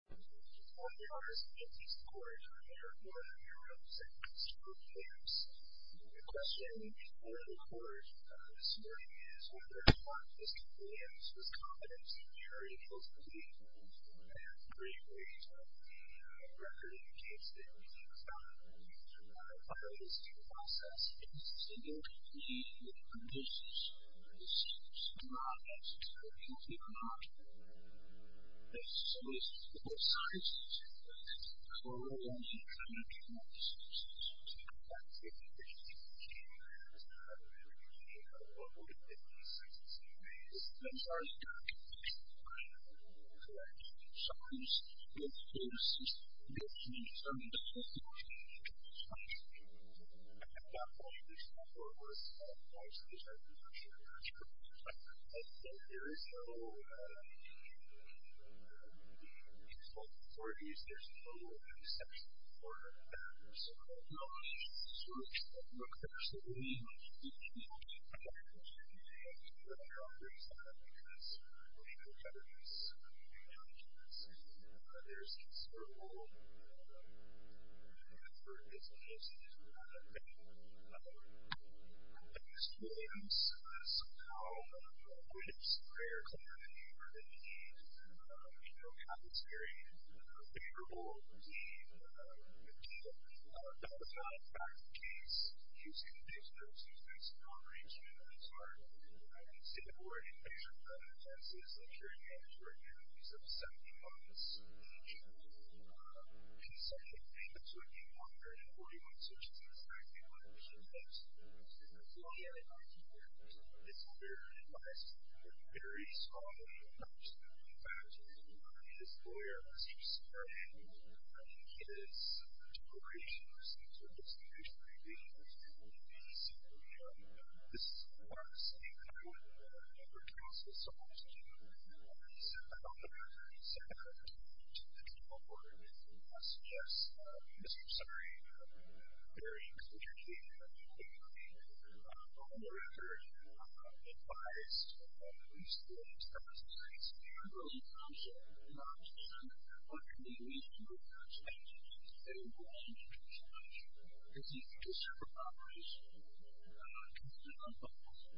I'm going to give you four hours to get these records prepared for when you're able to send them to your clients. The question we need to know in the records this morning is whether or not this compliance was competent to carry over to the account. We have a great rate of the record indicates that we need to file this in the process. It is a single complete with conditions. This does not exist for a complete contract. The solution is of course to co-ordinate information access. The third way to do that would be to recreate a record and send it to the claimants stock, or eligible subleased peer review sites of relational user information that meets those requirements. If we don't find anything laboratories concerns we never do ensure the records come back. There is no default authorities, there's no exception for that. So we don't just search for a book that we're sitting in, we do a lot of research on that because we know each other's challenges. There's considerable effort, it's a just-as-you-want-it thing. The next one is how do you square clarity for the needs of a capitalist, favorable, lean, data-backed case using digital assistance, non-regional, smart, and state-of-the-art infrastructure, such as literary manuscripts of 70 months each, and subject data to a new 141 such as the fact that one should note that the lawyer in this case is a lawyer who has a very small amount of money. In fact, his lawyer has used a portion of his decorations in terms of distribution and engagement with people in the DC area. This is the part of the city that I would never counsel someone to do. The second part of the report suggests that Mr. Suri, a very executive and very well-rounded author, advised that these things come as a surprise to him. I really don't understand what could be the reason for that change. I don't know anything too much. It's an infrastructure problem. I don't know the answer to that question.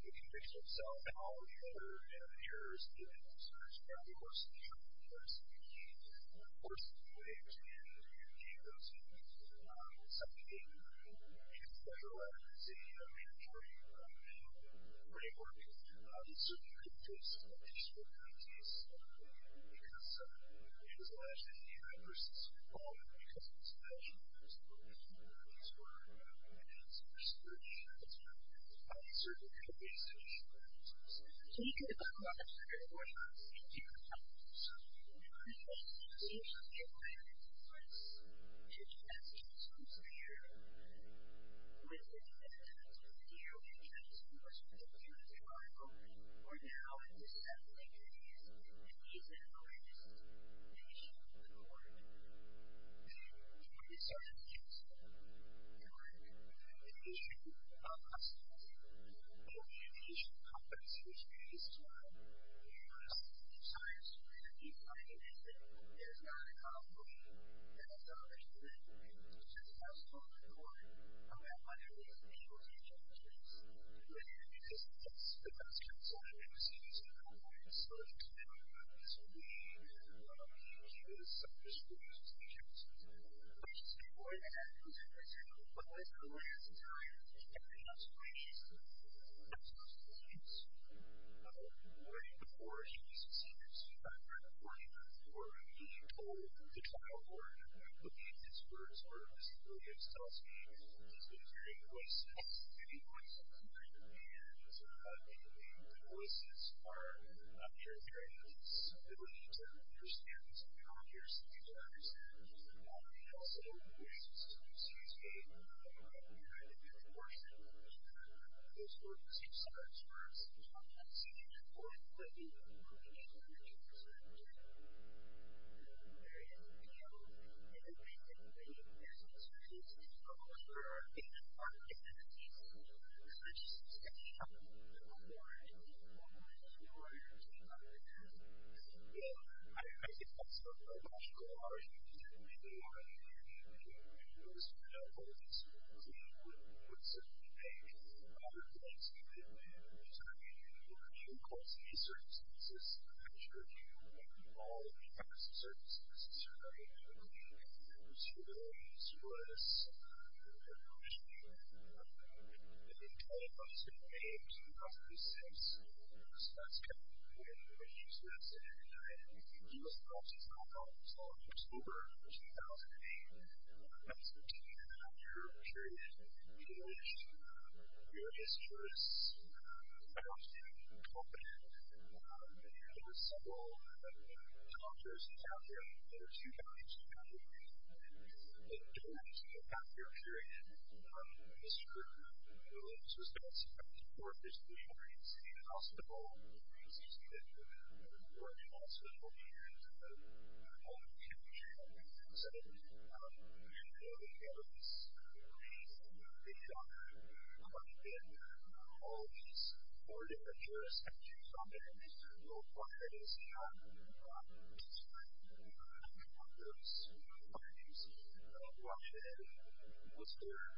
We can fix it ourselves. All of the other errors and concerns are, of course, in the health of the person. Of course, the way to do that is to give those people subject data and federal advertising and regulatory framework so that you can do a smart case. Because it is alleged that the universities were called because of this measure. So, it's been investigated, it's been worked on, and that answer for Mr. Suri has not been found. And certainly there are various features about it. Those are serious matters. We could adopt other definitions into the publics. Am I taking these things as employment? Of course. But you ask when Mr. Suri was simply there. We'll admit that that's what he was doing. We tried telling him to work with the other people in the room. For now, it's as bad as the interview is and even more than what he should have done from the court. I'm going to start with Mr. Suri. The issue of hospitality, and the issue of competency, which we used to have in the University of New South Wales with the people I interviewed there, there's not an obligation, and it's not a legitimate obligation. It's just not supported in the law. And we have hundreds of individuals in each of those groups. And we're going to make decisions that those kinds of decisions are going to make. So, it's been worked on. I'm going to start with Mr. Suri. He is a distinguished specialist. He's been working at the University of New South Wales for a number of years. He's a very distinguished specialist. He has a lot of experience. Right before he was a senior student, right before he was told the trial word, looking at his words, or his ability to tell a story, he was a very good voice. He has a very good voice. He's a very good speaker. He's a very good speaker. He's a very good speaker. I think that's theological argument. He was one of those individuals who would certainly make other things that would make other things happen. He calls these circumstances what he calls the circumstances surrounding the country. He was familiar with this. He was familiar with this. He's a very good speaker. He's been known by his living name since 1966. And he's been known by his living name since October 2008. Since October 2008. Your gist for this and I won't tell more. but several authors have it in different countries. In general, I'm just going to pass it up to you. Mr. Williams has been a subject for a presentation at City Hospital and he's just been working on social issues and a whole bunch of issues that have been presented. You know, they have this amazing video collected from all these four different jurisdictions on their list. One of them is the Los Angeles County Police Department. Was there some issue with your reporting to the police? And do you have anything to say about Mr. Williams or the comments specifically that you have received? You said that you have a few issues that you'd like to highlight. Well, the first thing I'd like to do is to just say a little bit about who sent this to me. And of course, it's been a few years, but I've never received a question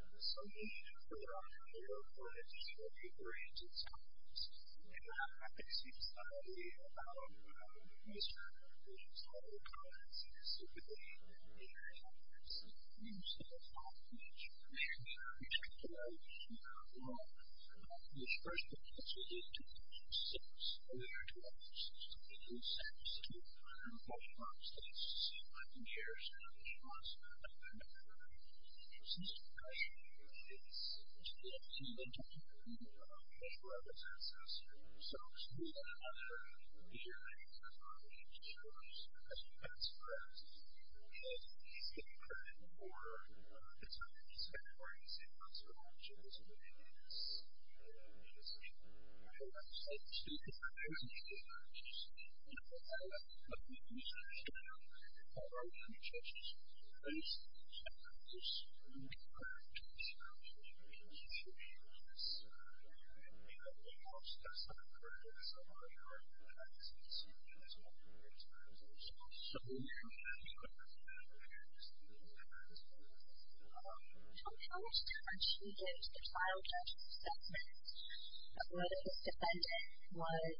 that is directly or directly from me about what it represents. So, to me, that's another issue that I'd like to share with you just because I think that's great. And I think it's incredibly important. It's something that's very hard to say once you're watching this video. And it's been a whole lot of fun. You're automatically changing just a little bit. So, first, are you going to file a judgment of whether this defendant was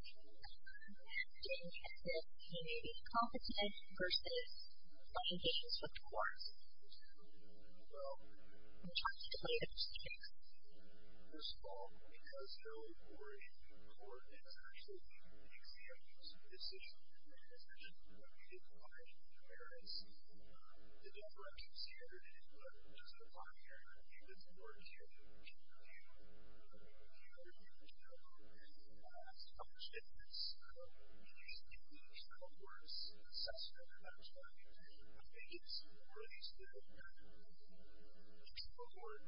getting tested, he may be incompetent, versus playing games with the courts? Well, Can you talk to the plaintiffs, please? First of all, because early court is actually the examples of decisions that are made in compliance with the merits, the deflection standard is what it looks like here. In this court here, if you look at the last couple of judgments, you can see that these court words, the assessment, actually, I think it's one of these little things that the court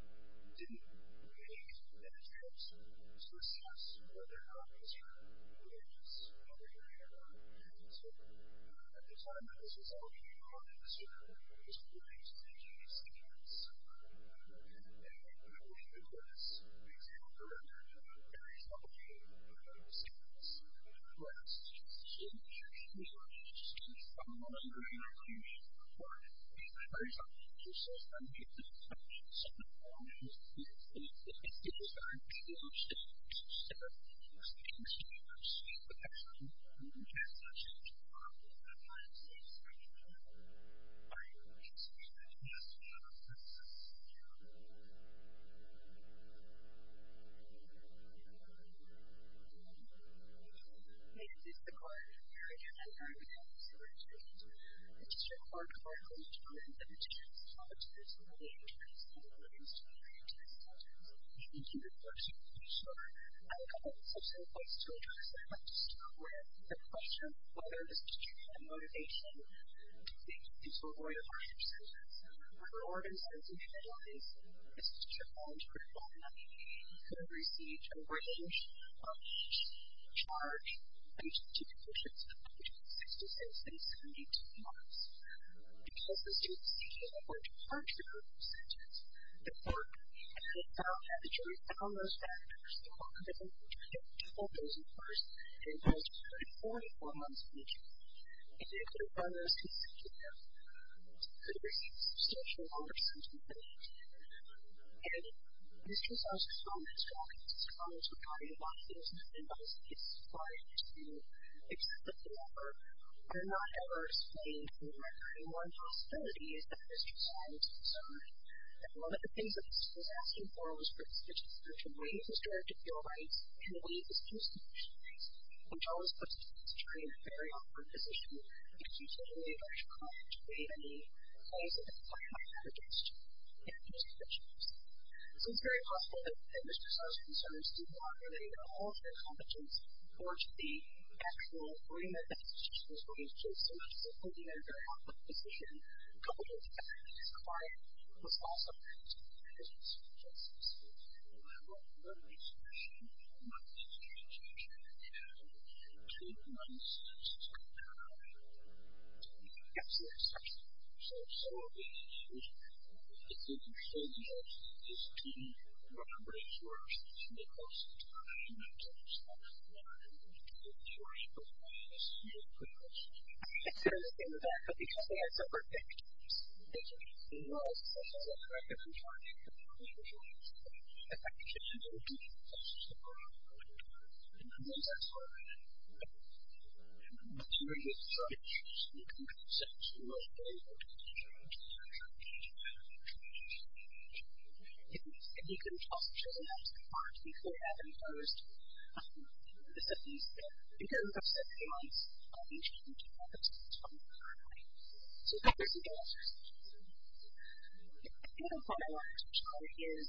didn't make the judgements to assess whether or not he's hurt, whether he's having an error, and so, at the time that this was all being brought in, this court was going through these Artie treatments. Actually, one of his was an example of this very self-examining acceptance test. It was done in combination with insecticide, which is basically something that the judge is going to do, they estado at the same professionals, well, they don't have a lot of Shake Harden, they don't have a lot of Shake Harden, but it's basically the same process. This is the court hearing, and I'm going to answer a few questions. Mr. Clark, are you going to comment on the test? How much of this is really interesting and what is really interesting? for sure. I have a couple of questions to address. I'd like to start with the question whether the student had the motivation to think he was going to find himself murder ordinances, and if it was, the student found critical, he could have received a written charge based on two conditions, page 66, and 72 marks. Because the student's seeking a court-department sentence, the court had found that the jury found those factors that the court had found to be critical, those were first and foremost, 44 months in jail, and they couldn't find those two things again. He could have received substantial longer sentence than that. And Mr. Zell's comments, Dr. Zell's regarding a lot of things, and I was surprised to accept the offer, were not ever explained in the record. One possibility is that Mr. Zell was concerned that one of the things that the student was asking for was for the statistical judge to waive his direct appeal rights and waive his case conditions, which all of a sudden puts the student in a very awkward position that he could only go to court to waive any claims that the client might have against him and his convictions. So it's very possible that Mr. Zell's concerns do not relate at all to the competence or to the actual agreement that the student was going to take, so much as including a very awkward position coupled with the fact that his client was also going to take the case against him. And I don't want to make the assumption that one of the things that the student was asking was that the student was going to take the case against his client. That's the assumption. So if the student says yes, does the student want to break the rules and make all sorts of claims against him so that the client can take the case against his client, is he going to break the rules? That's the other thing with that. But the other thing I said was that it's equally good for the agent to know all sorts of social work requirements for a child that's going to take the case against him, if, actually, the agent says yes, then let's go ahead with it. If he gives up children, that's the part things that happen first. The students goes upstairs. He wants a page like a school characteristic. So, there's a difference. The problem I want to touch on is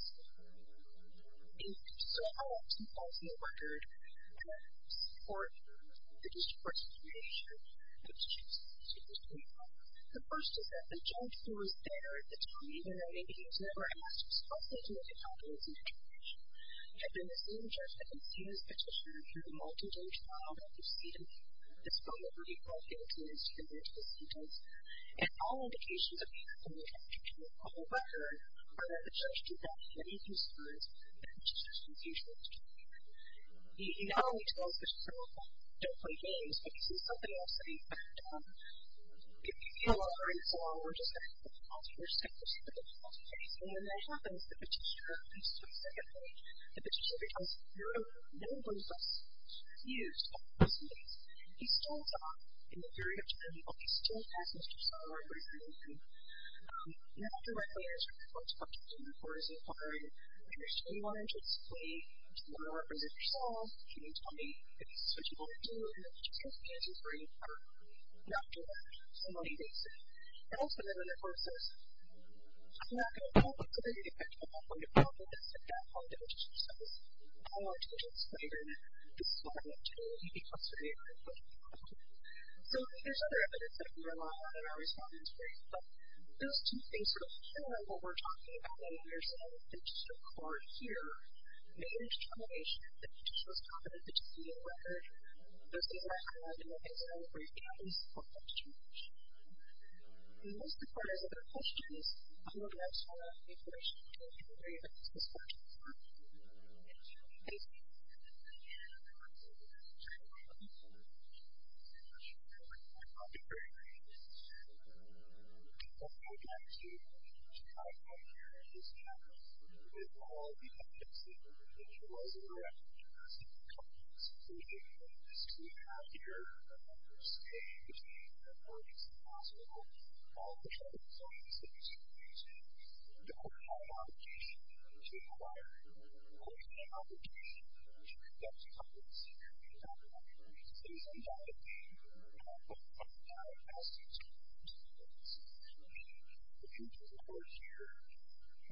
if, somehow, he falls in the record for the district court's determination that the child is going to take the case against him. The first is that the judge who was there at the time, even though maybe he was never at last, was also doing a good job in his investigation, had been the same judge that conceded his petition to the multi-judge trial that preceded this particular case against him. And all indications of the accomplishment of the judgment on the record are that the judge did not have any concerns with the petitioner's refusal to take the case. He not only tells the petitioner, don't play games, but he says something else, that, in fact, if you feel all right, so long, we're just going to have to pause for a second, we're going to pause the case. And when that happens, the petitioner, at least for the second time, the petitioner becomes, no one's less confused about this case. He still talks, in the period of time, but he still has Mr. Saul representing him. Not directly, as you're going to have to do in the court as required, but you're still going to want him to explain to the woman who represented Mr. Saul, can you tell me, if this is what you want to do, and if it's just a case he's ready to cover, and after that, so long as he makes it. And also, then, in the court says, I'm not going to call, but could there be an effect on my point of reference if that woman denounced Mr. Saul? I want to explain, and this is why I'm not sure that he'd be custodian of it. So, there's other evidence that we rely on in our respondents' briefs, but those two things sort of pair with what we're talking about in your sort of interest of court here, the interdiction of the petitioner's competence to continue the record, those things that I highlighted in the case, I don't agree, at least for the next two weeks. And most important, as other questions, I'm going to ask for more information between January and August, as far as I'm concerned. Thank you. MR. CAMPBELL. My name is Robert Campbell. And I'm here to talk about the issue that is happening with all the evidence that we've been utilizing around domestic and cultural discrimination. And this is what we have here. There's a change in the reporting that's been possible from all the charges I've been seeing since June 22. We've been holding my obligation to require an open application to conduct a comprehensive review of all the evidence that is involved in the reporting that I've asked you to review. So, if you look at the report here,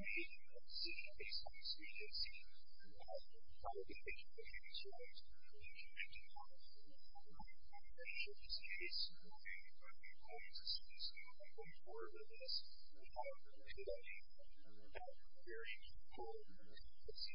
you may see, based on the speech that I've seen, that a lot of the things that have been described have been changed a lot. And I'm not going to show you this case, nor am I going to suggest that you look any further than this. We have many, many very critical cases to look at.